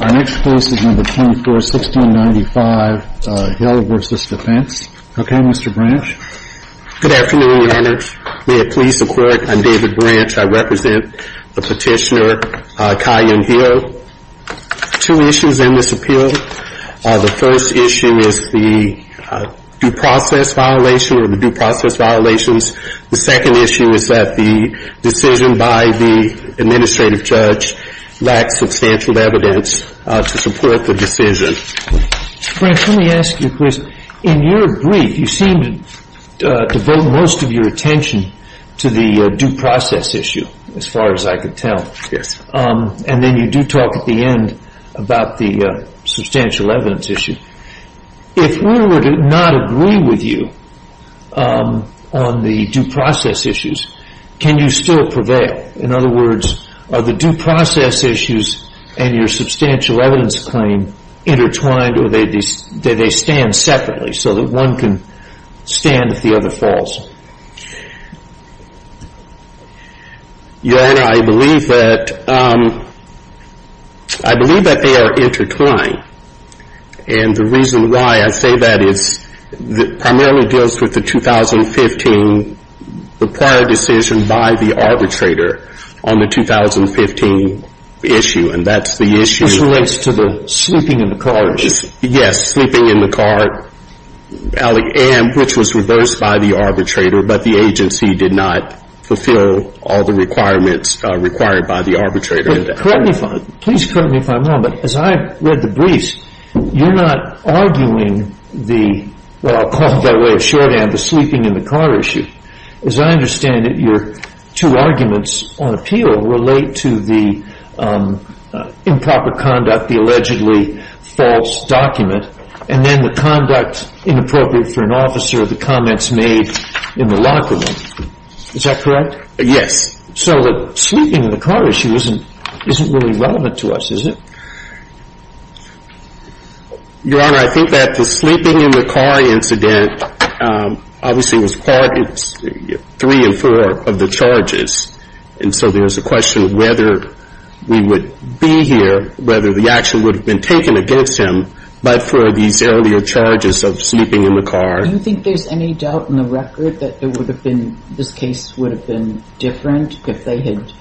Our next case is No. 24, 1695, Hill v. Defense. Okay, Mr. Branch? Good afternoon, Your Honor. May it please the Court, I'm David Branch. I represent the petitioner, Kai Young-Hee. Two issues in this appeal. The first issue is the due process violation or the due process violations. The second issue is that the decision by the administrative judge lacks substantial evidence to support the decision. Branch, let me ask you a question. In your brief, you seem to devote most of your attention to the due process issue, as far as I can tell. Yes. And then you do talk at the end about the substantial evidence issue. If we were to not agree with you on the due process issues, can you still prevail? In other words, are the due process issues and your substantial evidence claim intertwined or do they stand separately so that one can stand if the other falls? Your Honor, I believe that they are intertwined, and the reason why I say that is it primarily deals with the 2015, the prior decision by the arbitrator on the 2015 issue, and that's the issue. Which leads to the sleeping in the car issue. Yes, sleeping in the car, which was reversed by the arbitrator, but the agency did not fulfill all the requirements required by the arbitrator. Please correct me if I'm wrong, but as I read the briefs, you're not arguing the, what I'll call by way of shorthand, the sleeping in the car issue. As I understand it, your two arguments on appeal relate to the improper conduct, the allegedly false document, and then the conduct inappropriate for an officer, the comments made in the locker room. Is that correct? Yes. So the sleeping in the car issue isn't really relevant to us, is it? Your Honor, I think that the sleeping in the car incident obviously was part, three and four of the charges, and so there's a question of whether we would be here, whether the action would have been taken against him, but for these earlier charges of sleeping in the car. Do you think there's any doubt in the record that there would have been, this case would have been different if they had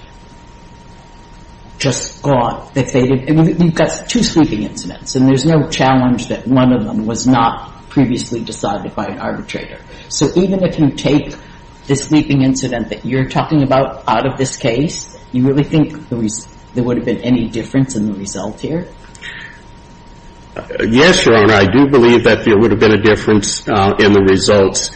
just thought that they had, I mean, we've got two sleeping incidents, and there's no challenge that one of them was not previously decided by an arbitrator. So even if you take the sleeping incident that you're talking about out of this case, you really think there would have been any difference in the result here? Yes, Your Honor, I do believe that there would have been a difference in the results.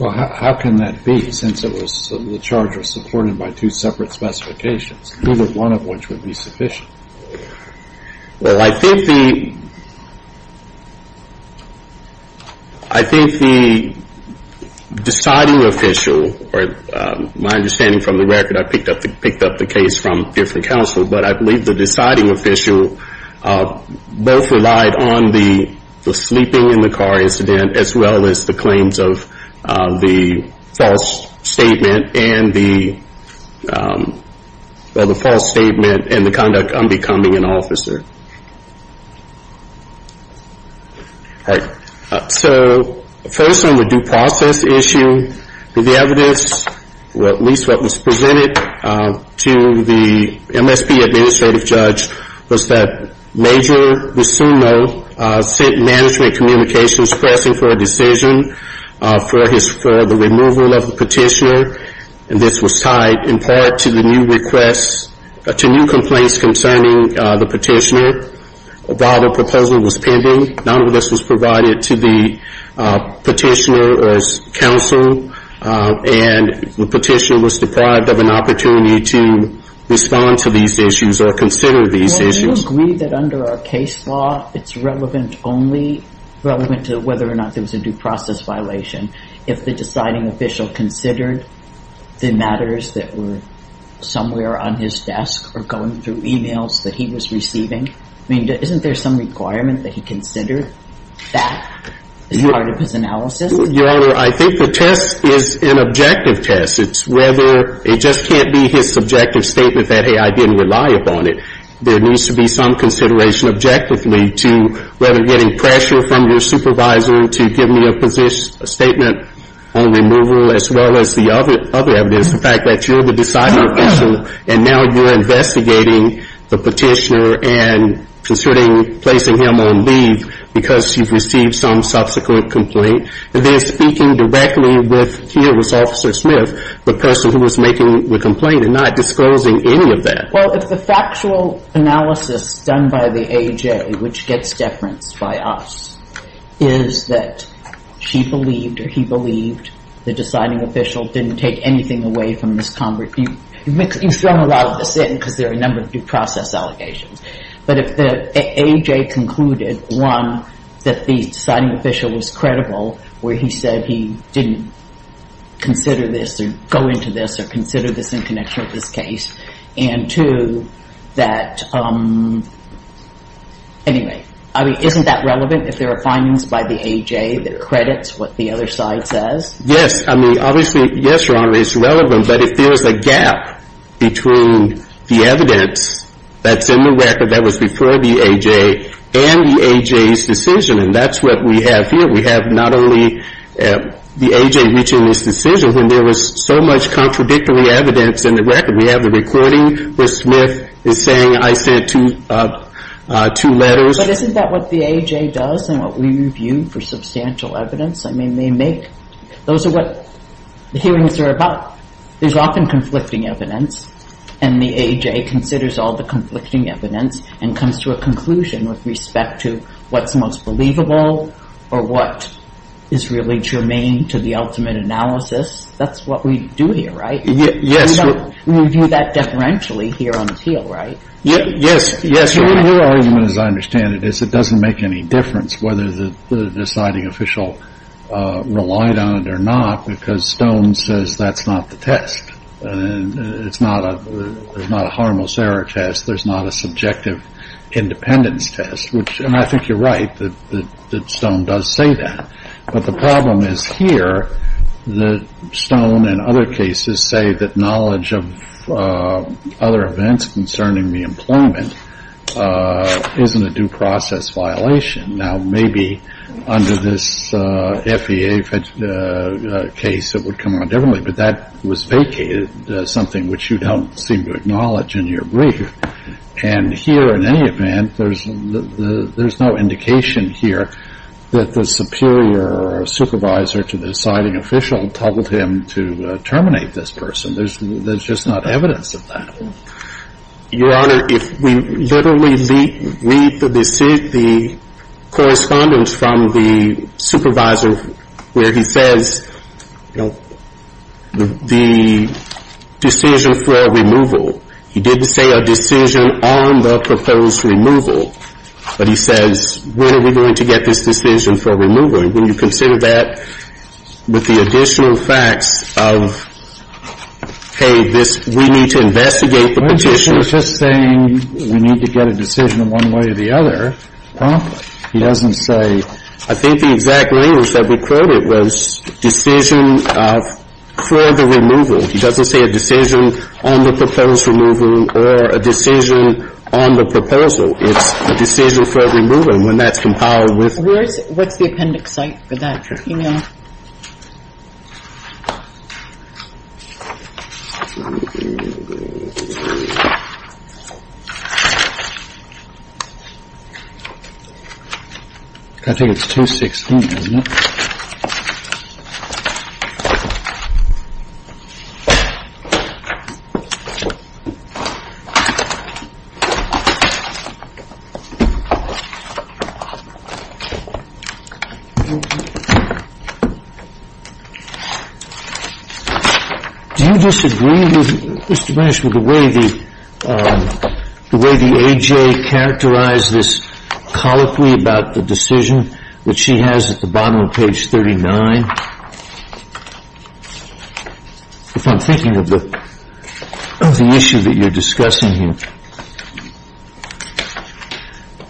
Well, how can that be, since it was, the charge was supported by two separate specifications? Who would, one of which would be sufficient? Well, I think the, I think the deciding official, or my understanding from the record, I picked up the case from different counsel, but I believe the deciding official both relied on the sleeping in the car incident, as well as the claims of the false statement and the, well, the false statement and the conduct on becoming an officer. All right. So first on the due process issue, the evidence, at least what was presented to the MSP administrative judge, was that major, we soon know, sent management communications pressing for a decision for the removal of the petitioner, and this was tied in part to the new requests, to new complaints concerning the petitioner. While the proposal was pending, none of this was provided to the petitioner or his counsel, and the petitioner was deprived of an opportunity to respond to these issues or consider these issues. Well, we agree that under our case law, it's relevant only, relevant to whether or not there was a due process violation. If the deciding official considered the matters that were somewhere on his desk or going through e-mails that he was receiving, I mean, isn't there some requirement that he considered that as part of his analysis? Your Honor, I think the test is an objective test. It's whether, it just can't be his subjective statement that, hey, I didn't rely upon it. There needs to be some consideration objectively to whether getting pressure from your supervisor to give me a position, a statement on removal, as well as the other evidence, the fact that you're the deciding official, and now you're investigating the petitioner and considering placing him on leave because you've received some subsequent complaint, and then speaking directly with, here was Officer Smith, the person who was making the complaint and not disclosing any of that. Well, if the factual analysis done by the A.J., which gets deference by us, is that she believed or he believed the deciding official didn't take anything away from his conversation, you've thrown a lot of this in because there are a number of due process allegations. But if the A.J. concluded, one, that the deciding official was credible, where he said he didn't consider this or go into this or consider this in connection with this case, and two, that, anyway, I mean, isn't that relevant if there are findings by the A.J. that accredits what the other side says? Yes. I mean, obviously, yes, Your Honor, it's relevant. But if there is a gap between the evidence that's in the record that was before the A.J. and the A.J.'s decision, and that's what we have here, we have not only the A.J. reaching this decision, there was so much contradictory evidence in the record. We have the recording where Smith is saying, I sent two letters. But isn't that what the A.J. does and what we review for substantial evidence? I mean, they make those are what the hearings are about. There's often conflicting evidence, and the A.J. considers all the conflicting evidence and comes to a conclusion with respect to what's most believable or what is really germane to the ultimate analysis. That's what we do here, right? Yes. We review that deferentially here on appeal, right? Yes. Yes, Your Honor, as I understand it, it doesn't make any difference whether the deciding official relied on it or not, because Stone says that's not the test. It's not a harmless error test. There's not a subjective independence test, and I think you're right. I think that Stone does say that. But the problem is here that Stone and other cases say that knowledge of other events concerning the employment isn't a due process violation. Now, maybe under this FEA case it would come out differently, but that was vacated, something which you don't seem to acknowledge in your brief. And here, in any event, there's no indication here that the superior or supervisor to the deciding official told him to terminate this person. There's just not evidence of that. Your Honor, if we literally read the correspondence from the supervisor where he says, you know, the decision for removal, he didn't say a decision on the proposed removal, but he says, when are we going to get this decision for removal? And when you consider that with the additional facts of, hey, this, we need to investigate the petition. Well, he's not just saying we need to get a decision one way or the other. He doesn't say. I think the exact language that we quoted was decision for the removal. He doesn't say a decision on the proposed removal or a decision on the proposal. It's a decision for removal, and when that's compiled with. What's the appendix site for that? Your Honor. I think it's 216, isn't it? Do you disagree with Mr. Minish with the way the A.J. characterized this colloquy about the decision that she has at the bottom of page 39? If I'm thinking of the issue that you're discussing here.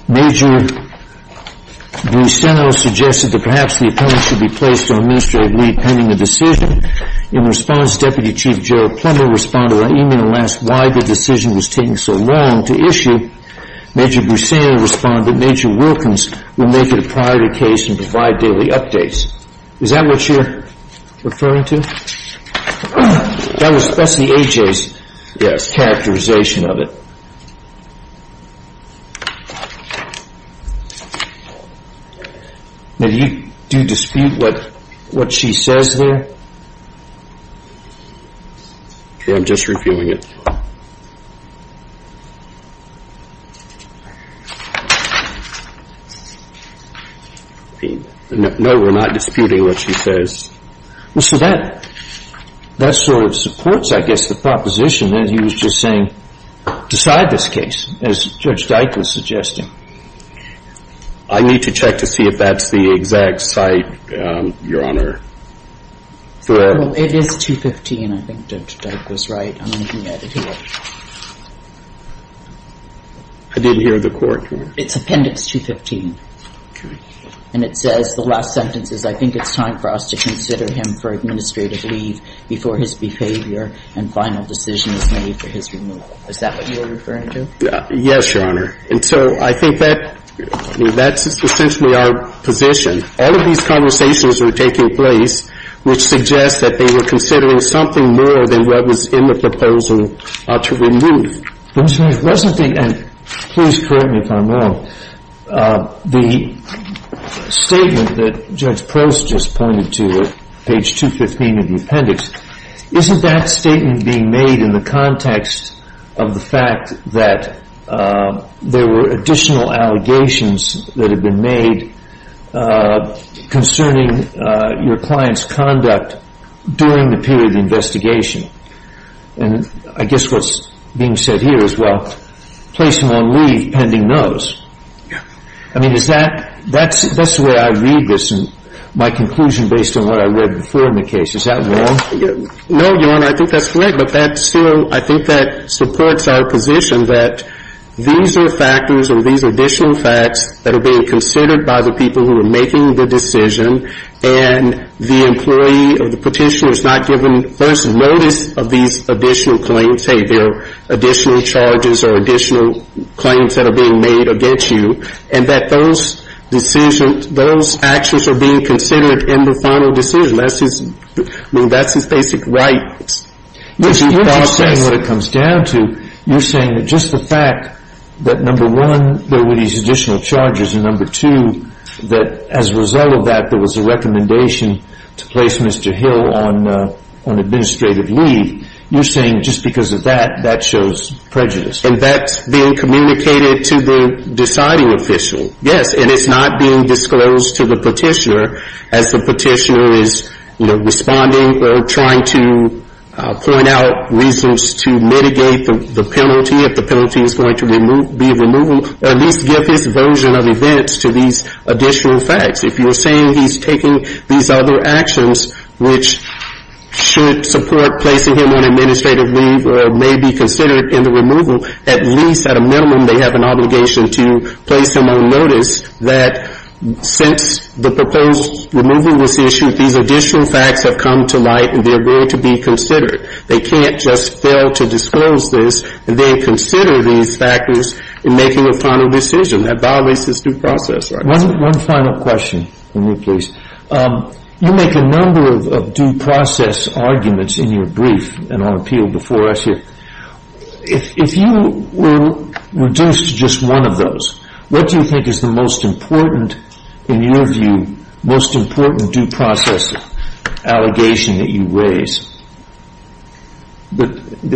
Major Buseno suggested that perhaps the appellant should be placed on administrative leave pending a decision. In response, Deputy Chief Gerald Plummer responded on email and asked why the decision was taking so long to issue. Major Buseno responded Major Wilkins will make it a priority case and provide daily updates. Is that what you're referring to? That's the A.J.'s characterization of it. Do you dispute what she says there? I'm just reviewing it. No, we're not disputing what she says. So that sort of supports, I guess, the proposition that he was just saying decide this case as Judge Dyke was suggesting. I need to check to see if that's the exact site, Your Honor. Well, it is 215. I think Judge Dyke was right on anything added here. I didn't hear the court. It's Appendix 215. Okay. And it says the last sentence is I think it's time for us to consider him for administrative leave before his behavior and final decision is made for his removal. Is that what you're referring to? Yes, Your Honor. And so I think that's essentially our position. All of these conversations were taking place which suggests that they were considering something more than what was in the proposal to remove. Mr. Wessenthal, and please correct me if I'm wrong, the statement that Judge Prost just pointed to, page 215 of the appendix, isn't that statement being made in the context of the fact that there were additional allegations that had been made concerning your client's conduct during the period of investigation? And I guess what's being said here is, well, placing on leave pending notice. Yeah. I mean, is that, that's the way I read this and my conclusion based on what I read before in the case. Is that wrong? No, Your Honor. I think that's correct. I think that supports our position that these are factors or these additional facts that are being considered by the people who are making the decision and the employee or the petitioner is not given first notice of these additional claims, say they're additional charges or additional claims that are being made against you, and that those decisions, those actions are being considered in the final decision. I mean, that's his basic right. You're not saying what it comes down to. You're saying that just the fact that, number one, there were these additional charges, and, number two, that as a result of that, there was a recommendation to place Mr. Hill on administrative leave. You're saying just because of that, that shows prejudice. And that's being communicated to the deciding official. Yes, and it's not being disclosed to the petitioner as the petitioner is, you know, responding or trying to point out reasons to mitigate the penalty. If the penalty is going to be removal, at least give his version of events to these additional facts. If you're saying he's taking these other actions, which should support placing him on administrative leave or may be considered in the removal, at least, at a minimum, they have an obligation to place him on notice that since the proposed removal was issued, these additional facts have come to light and they're going to be considered. They can't just fail to disclose this and then consider these factors in making a final decision. That violates his due process. One final question from you, please. You make a number of due process arguments in your brief and on appeal before us here. If you were reduced to just one of those, what do you think is the most important, in your view, most important due process allegation that you raise that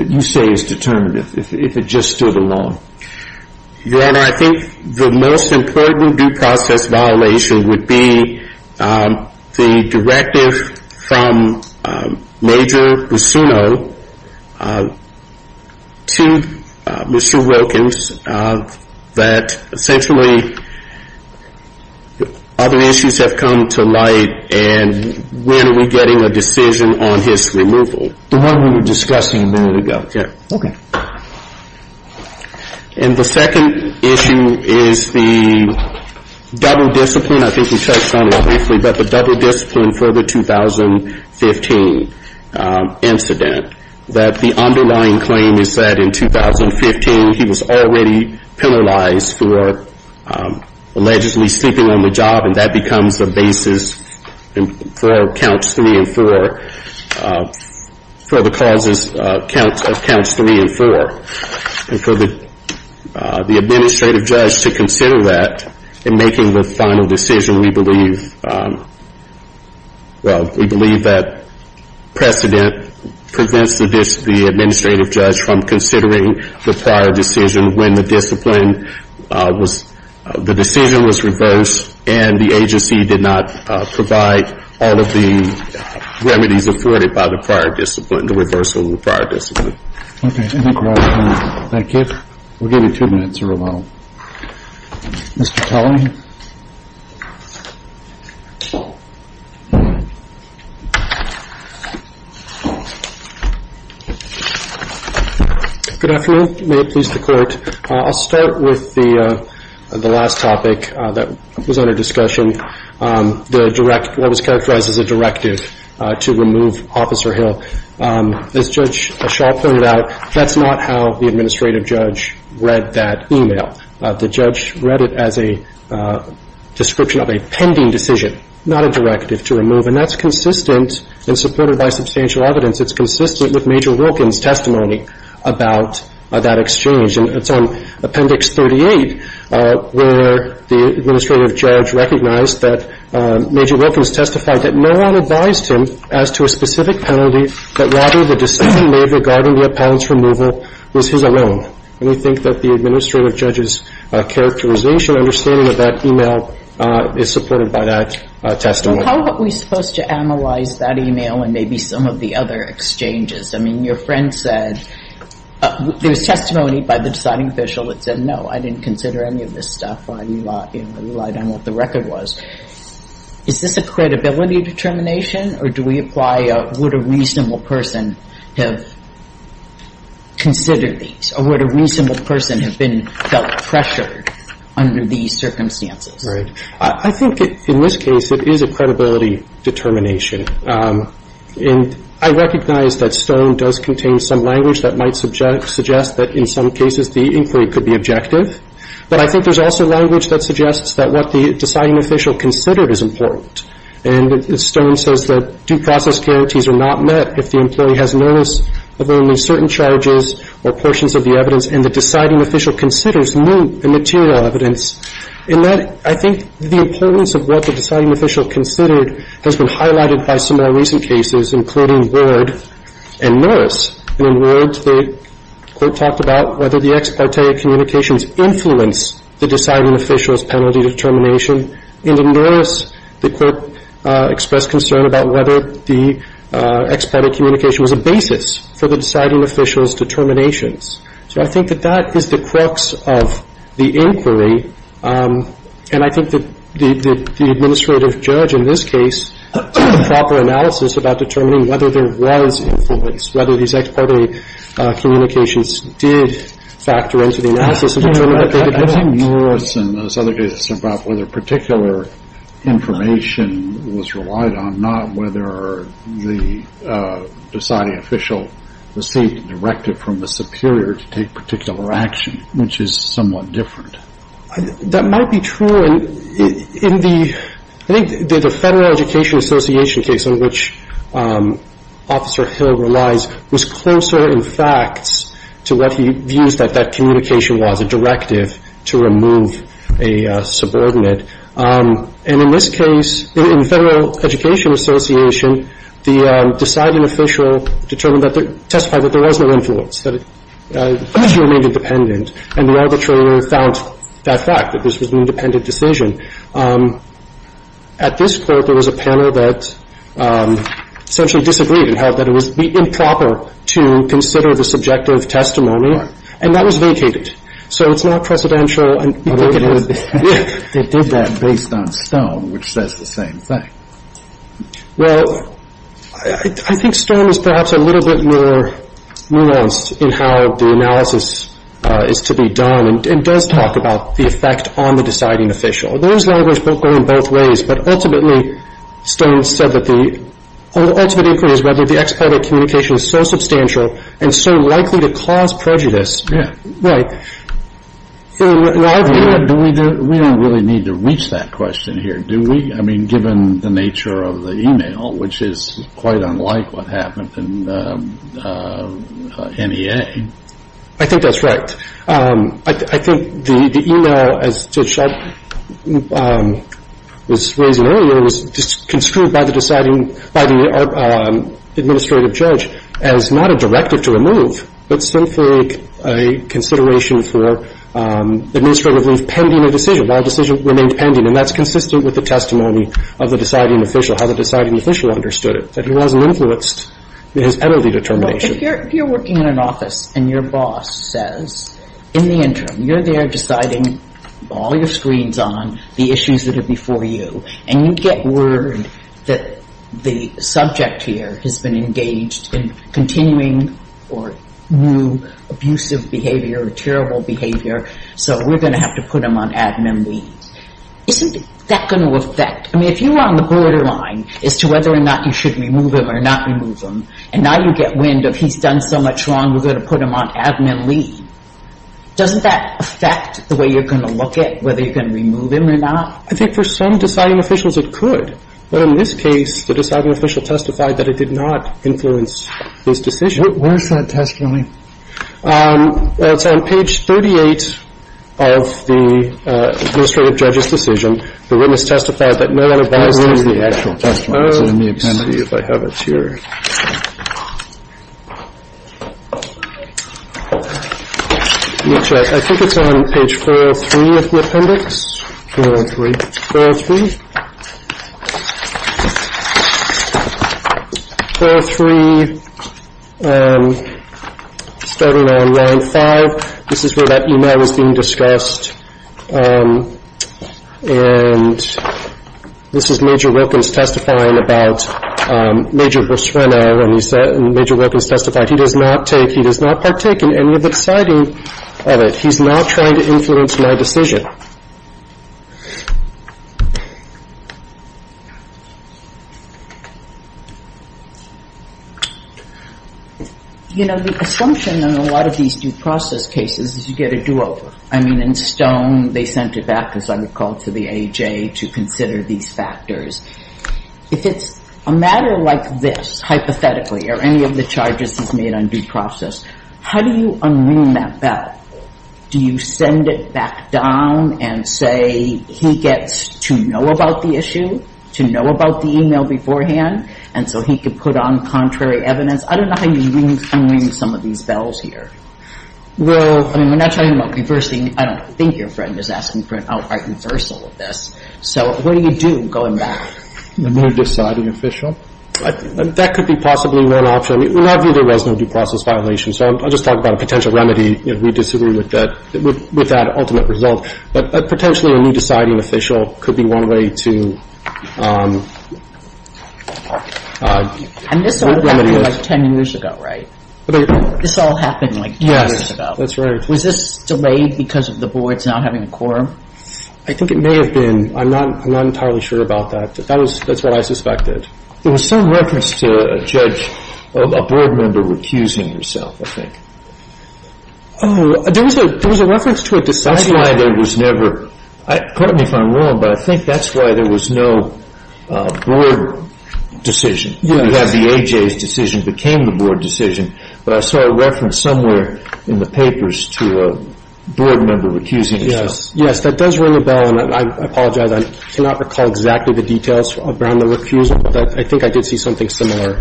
you say is determinative, if it just stood alone? Your Honor, I think the most important due process violation would be the directive from Major Busuno to Mr. Wilkins that essentially other issues have come to light, and when are we getting a decision on his removal? The one we were discussing a minute ago. Okay. And the second issue is the double discipline. I think you touched on it briefly, but the double discipline for the 2015 incident, that the underlying claim is that in 2015 he was already penalized for allegedly sleeping on the job, and that becomes the basis for counts three and four, for the causes of counts three and four. And for the administrative judge to consider that in making the final decision, we believe that precedent prevents the administrative judge from considering the prior decision when the discipline was, the decision was reversed, and the agency did not provide all of the remedies afforded by the prior discipline, the reversal of the prior discipline. Okay. I think we're out of time. Thank you. We'll give you two minutes or so. Mr. Kelly? Good afternoon. May it please the Court. I'll start with the last topic that was under discussion, what was characterized as a directive to remove Officer Hill. As Judge Shaw pointed out, that's not how the administrative judge read that e-mail. The judge read it as a description of a pending decision, not a directive to remove, and that's consistent and supported by substantial evidence. It's consistent with Major Wilkins' testimony about that exchange, and it's on Appendix 38 where the administrative judge recognized that Major Wilkins testified that no one advised him as to a specific penalty that, rather, the decision made regarding the appellant's removal was his own. And we think that the administrative judge's characterization, understanding of that e-mail is supported by that testimony. So how are we supposed to analyze that e-mail and maybe some of the other exchanges? I mean, your friend said there was testimony by the deciding official that said, no, I didn't consider any of this stuff. I relied on what the record was. Is this a credibility determination, or do we apply would a reasonable person have considered these, or would a reasonable person have been felt pressured under these circumstances? Right. I think, in this case, it is a credibility determination. And I recognize that Stone does contain some language that might suggest that, in some cases, the inquiry could be objective. But I think there's also language that suggests that what the deciding official considered is important. And Stone says that due process guarantees are not met if the employee has notice of only certain charges or portions of the evidence and the deciding official considers no material evidence. And I think the importance of what the deciding official considered has been highlighted by some of our recent cases, including Ward and Norris. And in Ward, the Court talked about whether the ex parte communications influenced the deciding official's penalty determination. And in Norris, the Court expressed concern about whether the ex parte communication was a basis for the deciding official's determinations. So I think that that is the crux of the inquiry. And I think that the administrative judge, in this case, did a proper analysis about determining whether there was influence, whether these ex parte communications did factor into the analysis of determining what they determined. I think Norris and those other cases are about whether particular information was relied on, not whether the deciding official received a directive from the superior to take particular action, which is somewhat different. That might be true. In the, I think the Federal Education Association case in which Officer Hill relies was closer in fact to what he views that that communication was, a directive to remove a subordinate. And in this case, in Federal Education Association, the deciding official determined that, testified that there was no influence, that he remained independent. And the arbitrator found that fact, that this was an independent decision. At this Court, there was a panel that essentially disagreed and held that it would be improper to consider the subjective testimony. And that was vacated. So it's not precedential. They did that based on Stone, which says the same thing. Well, I think Stone is perhaps a little bit more nuanced in how the analysis is to be done and does talk about the effect on the deciding official. There is language going both ways. But ultimately, Stone said that the ultimate inquiry is whether the ex parte communication is so substantial and so likely to cause prejudice. Yeah. Right. We don't really need to reach that question here, do we? I mean, given the nature of the e-mail, which is quite unlike what happened in NEA. I think that's right. I think the e-mail, as Judge Schott was raising earlier, was construed by the administrative judge as not a directive to remove, but simply a consideration for administrative leave pending a decision, while a decision remained pending. And that's consistent with the testimony of the deciding official, how the deciding official understood it, that he wasn't influenced in his penalty determination. Well, if you're working in an office and your boss says, in the interim, you're there deciding all your screens on the issues that are before you, and you get word that the subject here has been engaged in continuing or new abusive behavior or terrible behavior, so we're going to have to put him on admin leave, isn't that going to affect? I mean, if you're on the borderline as to whether or not you should remove him or not remove him, and now you get wind of he's done so much wrong, we're going to put him on admin leave, doesn't that affect the way you're going to look at whether you're going to remove him or not? I think for some deciding officials, it could. But in this case, the deciding official testified that it did not influence his decision. Where's that testimony? It's on page 38 of the administrative judge's decision. The witness testified that no one advised him of the actual testimony. It's in the appendix. Let me see if I have it here. Let me check. I think it's on page 403 of the appendix. 403. 403. 403, starting on line 5, this is where that e-mail was being discussed, and this is Major Wilkins testifying about Major Rosreno, and Major Wilkins testified, he does not take, he does not partake in any of the deciding of it. He's not trying to influence my decision. You know, the assumption in a lot of these due process cases is you get a do-over. I mean, in Stone, they sent it back, as I recall, to the AHA to consider these factors. If it's a matter like this, hypothetically, or any of the charges he's made on due process, how do you unwing that bell? Do you send it back down and say he gets to know about the issue, to know about the e-mail beforehand, and so he could put on contrary evidence? I don't know how you unwing some of these bells here. Well, I mean, we're not talking about reversing. I don't think your friend is asking for an outright reversal of this. So what do you do going back? A new deciding official? That could be possibly one option. I mean, we're not viewing it as a new due process violation, so I'll just talk about a potential remedy if we disagree with that ultimate result. But potentially a new deciding official could be one way to remedy this. And this all happened like 10 years ago, right? This all happened like 10 years ago. Yes, that's right. Was this delayed because of the boards not having a quorum? I think it may have been. I'm not entirely sure about that. That's what I suspected. There was some reference to a judge, a board member, recusing himself, I think. Oh, there was a reference to a deciding official. That's why there was never – pardon me if I'm wrong, but I think that's why there was no board decision. We have the AJA's decision became the board decision, but I saw a reference somewhere in the papers to a board member recusing himself. Yes, that does ring a bell, and I apologize. I cannot recall exactly the details around the recusal, but I think I did see something similar.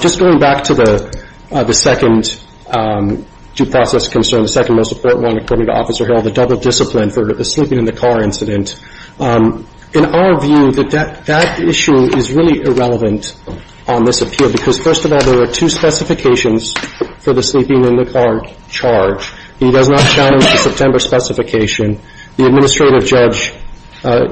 Just going back to the second due process concern, the second most important one, according to Officer Harrell, the double discipline for the sleeping in the car incident. In our view, that issue is really irrelevant on this appeal because, first of all, there are two specifications for the sleeping in the car charge. He does not challenge the September specification. The administrative judge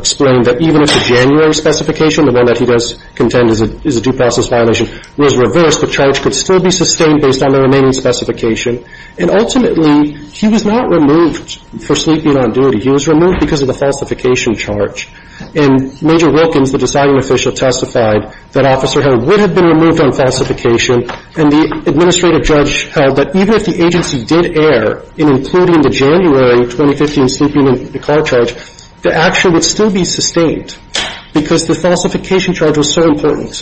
explained that even if the January specification, the one that he does contend is a due process violation, was reversed, the charge could still be sustained based on the remaining specification. And ultimately, he was not removed for sleeping on duty. He was removed because of the falsification charge. And Major Wilkins, the deciding official, testified that Officer Harrell would have been removed on falsification, and the administrative judge held that even if the agency did err in including the January 2015 sleeping in the car charge, the action would still be sustained because the falsification charge was so important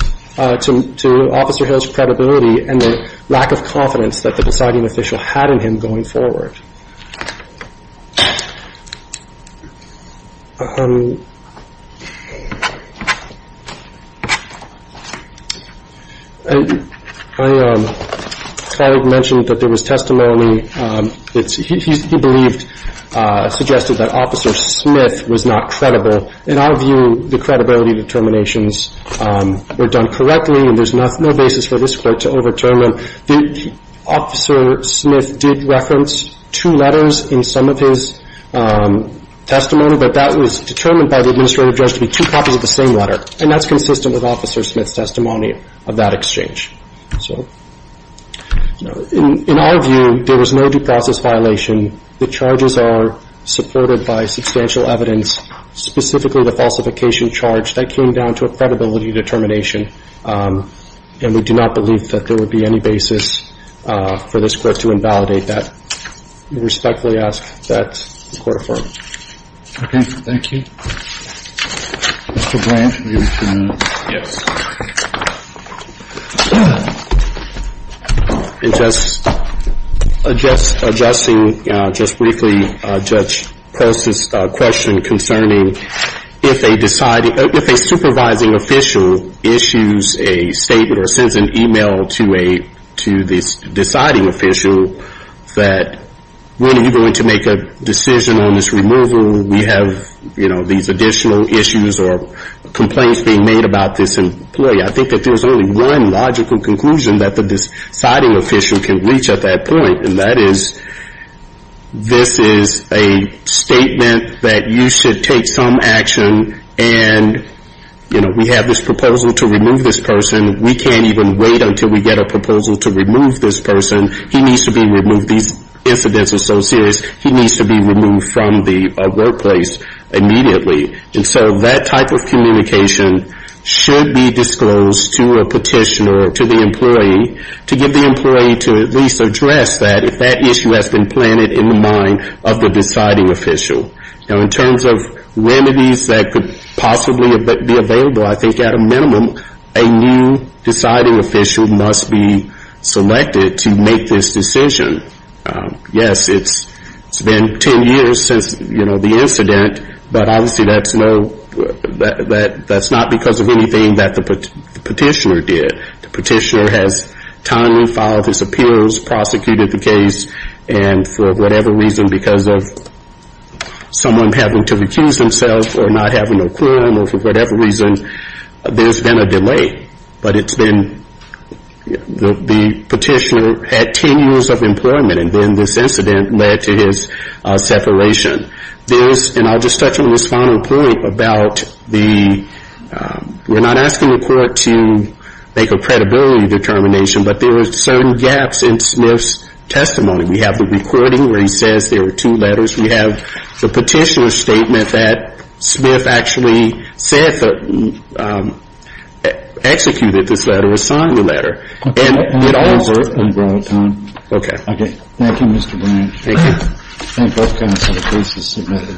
to Officer Harrell's credibility and the lack of confidence that the deciding official had in him going forward. I thought I'd mention that there was testimony. It's believed, suggested that Officer Smith was not credible. In our view, the credibility determinations were done correctly, and there's no basis for this court to overturn them. Officer Smith did reference two letters in some of his testimony, but that was determined by the administrative judge to be two copies of the same letter, and that's consistent with Officer Smith's testimony of that exchange. In our view, there was no due process violation. The charges are supported by substantial evidence, specifically the falsification charge. That came down to a credibility determination, and we do not believe that there would be any basis for this court to invalidate that. We respectfully ask that the court affirm. Okay. Thank you. Mr. Blanch, are you going to come up? Yes. Just briefly, Judge Post's question concerning if a supervising official issues a statement or sends an email to the deciding official that, when are you going to make a decision on this removal? We have these additional issues or complaints being made about this, and I think that there's only one logical conclusion that the deciding official can reach at that point, and that is this is a statement that you should take some action, and we have this proposal to remove this person. We can't even wait until we get a proposal to remove this person. He needs to be removed. These incidents are so serious, he needs to be removed from the workplace immediately. And so that type of communication should be disclosed to a petitioner or to the employee to get the employee to at least address that, if that issue has been planted in the mind of the deciding official. Now, in terms of remedies that could possibly be available, I think at a minimum a new deciding official must be selected to make this decision. Yes, it's been 10 years since the incident, but obviously that's not because of anything that the petitioner did. The petitioner has timely filed his appeals, prosecuted the case, and for whatever reason, because of someone having to recuse themselves or not having a quorum or for whatever reason, there's been a delay. But it's been, the petitioner had 10 years of employment, and then this incident led to his separation. There's, and I'll just touch on this final point about the, we're not asking the court to make a credibility determination, but there are certain gaps in Smith's testimony. We have the recording where he says there were two letters. We have the petitioner's statement that Smith actually said, executed this letter or signed the letter. And it all works. Okay. Okay. Thank you, Mr. Bryant. Thank you. Thank both counsel. The case is submitted.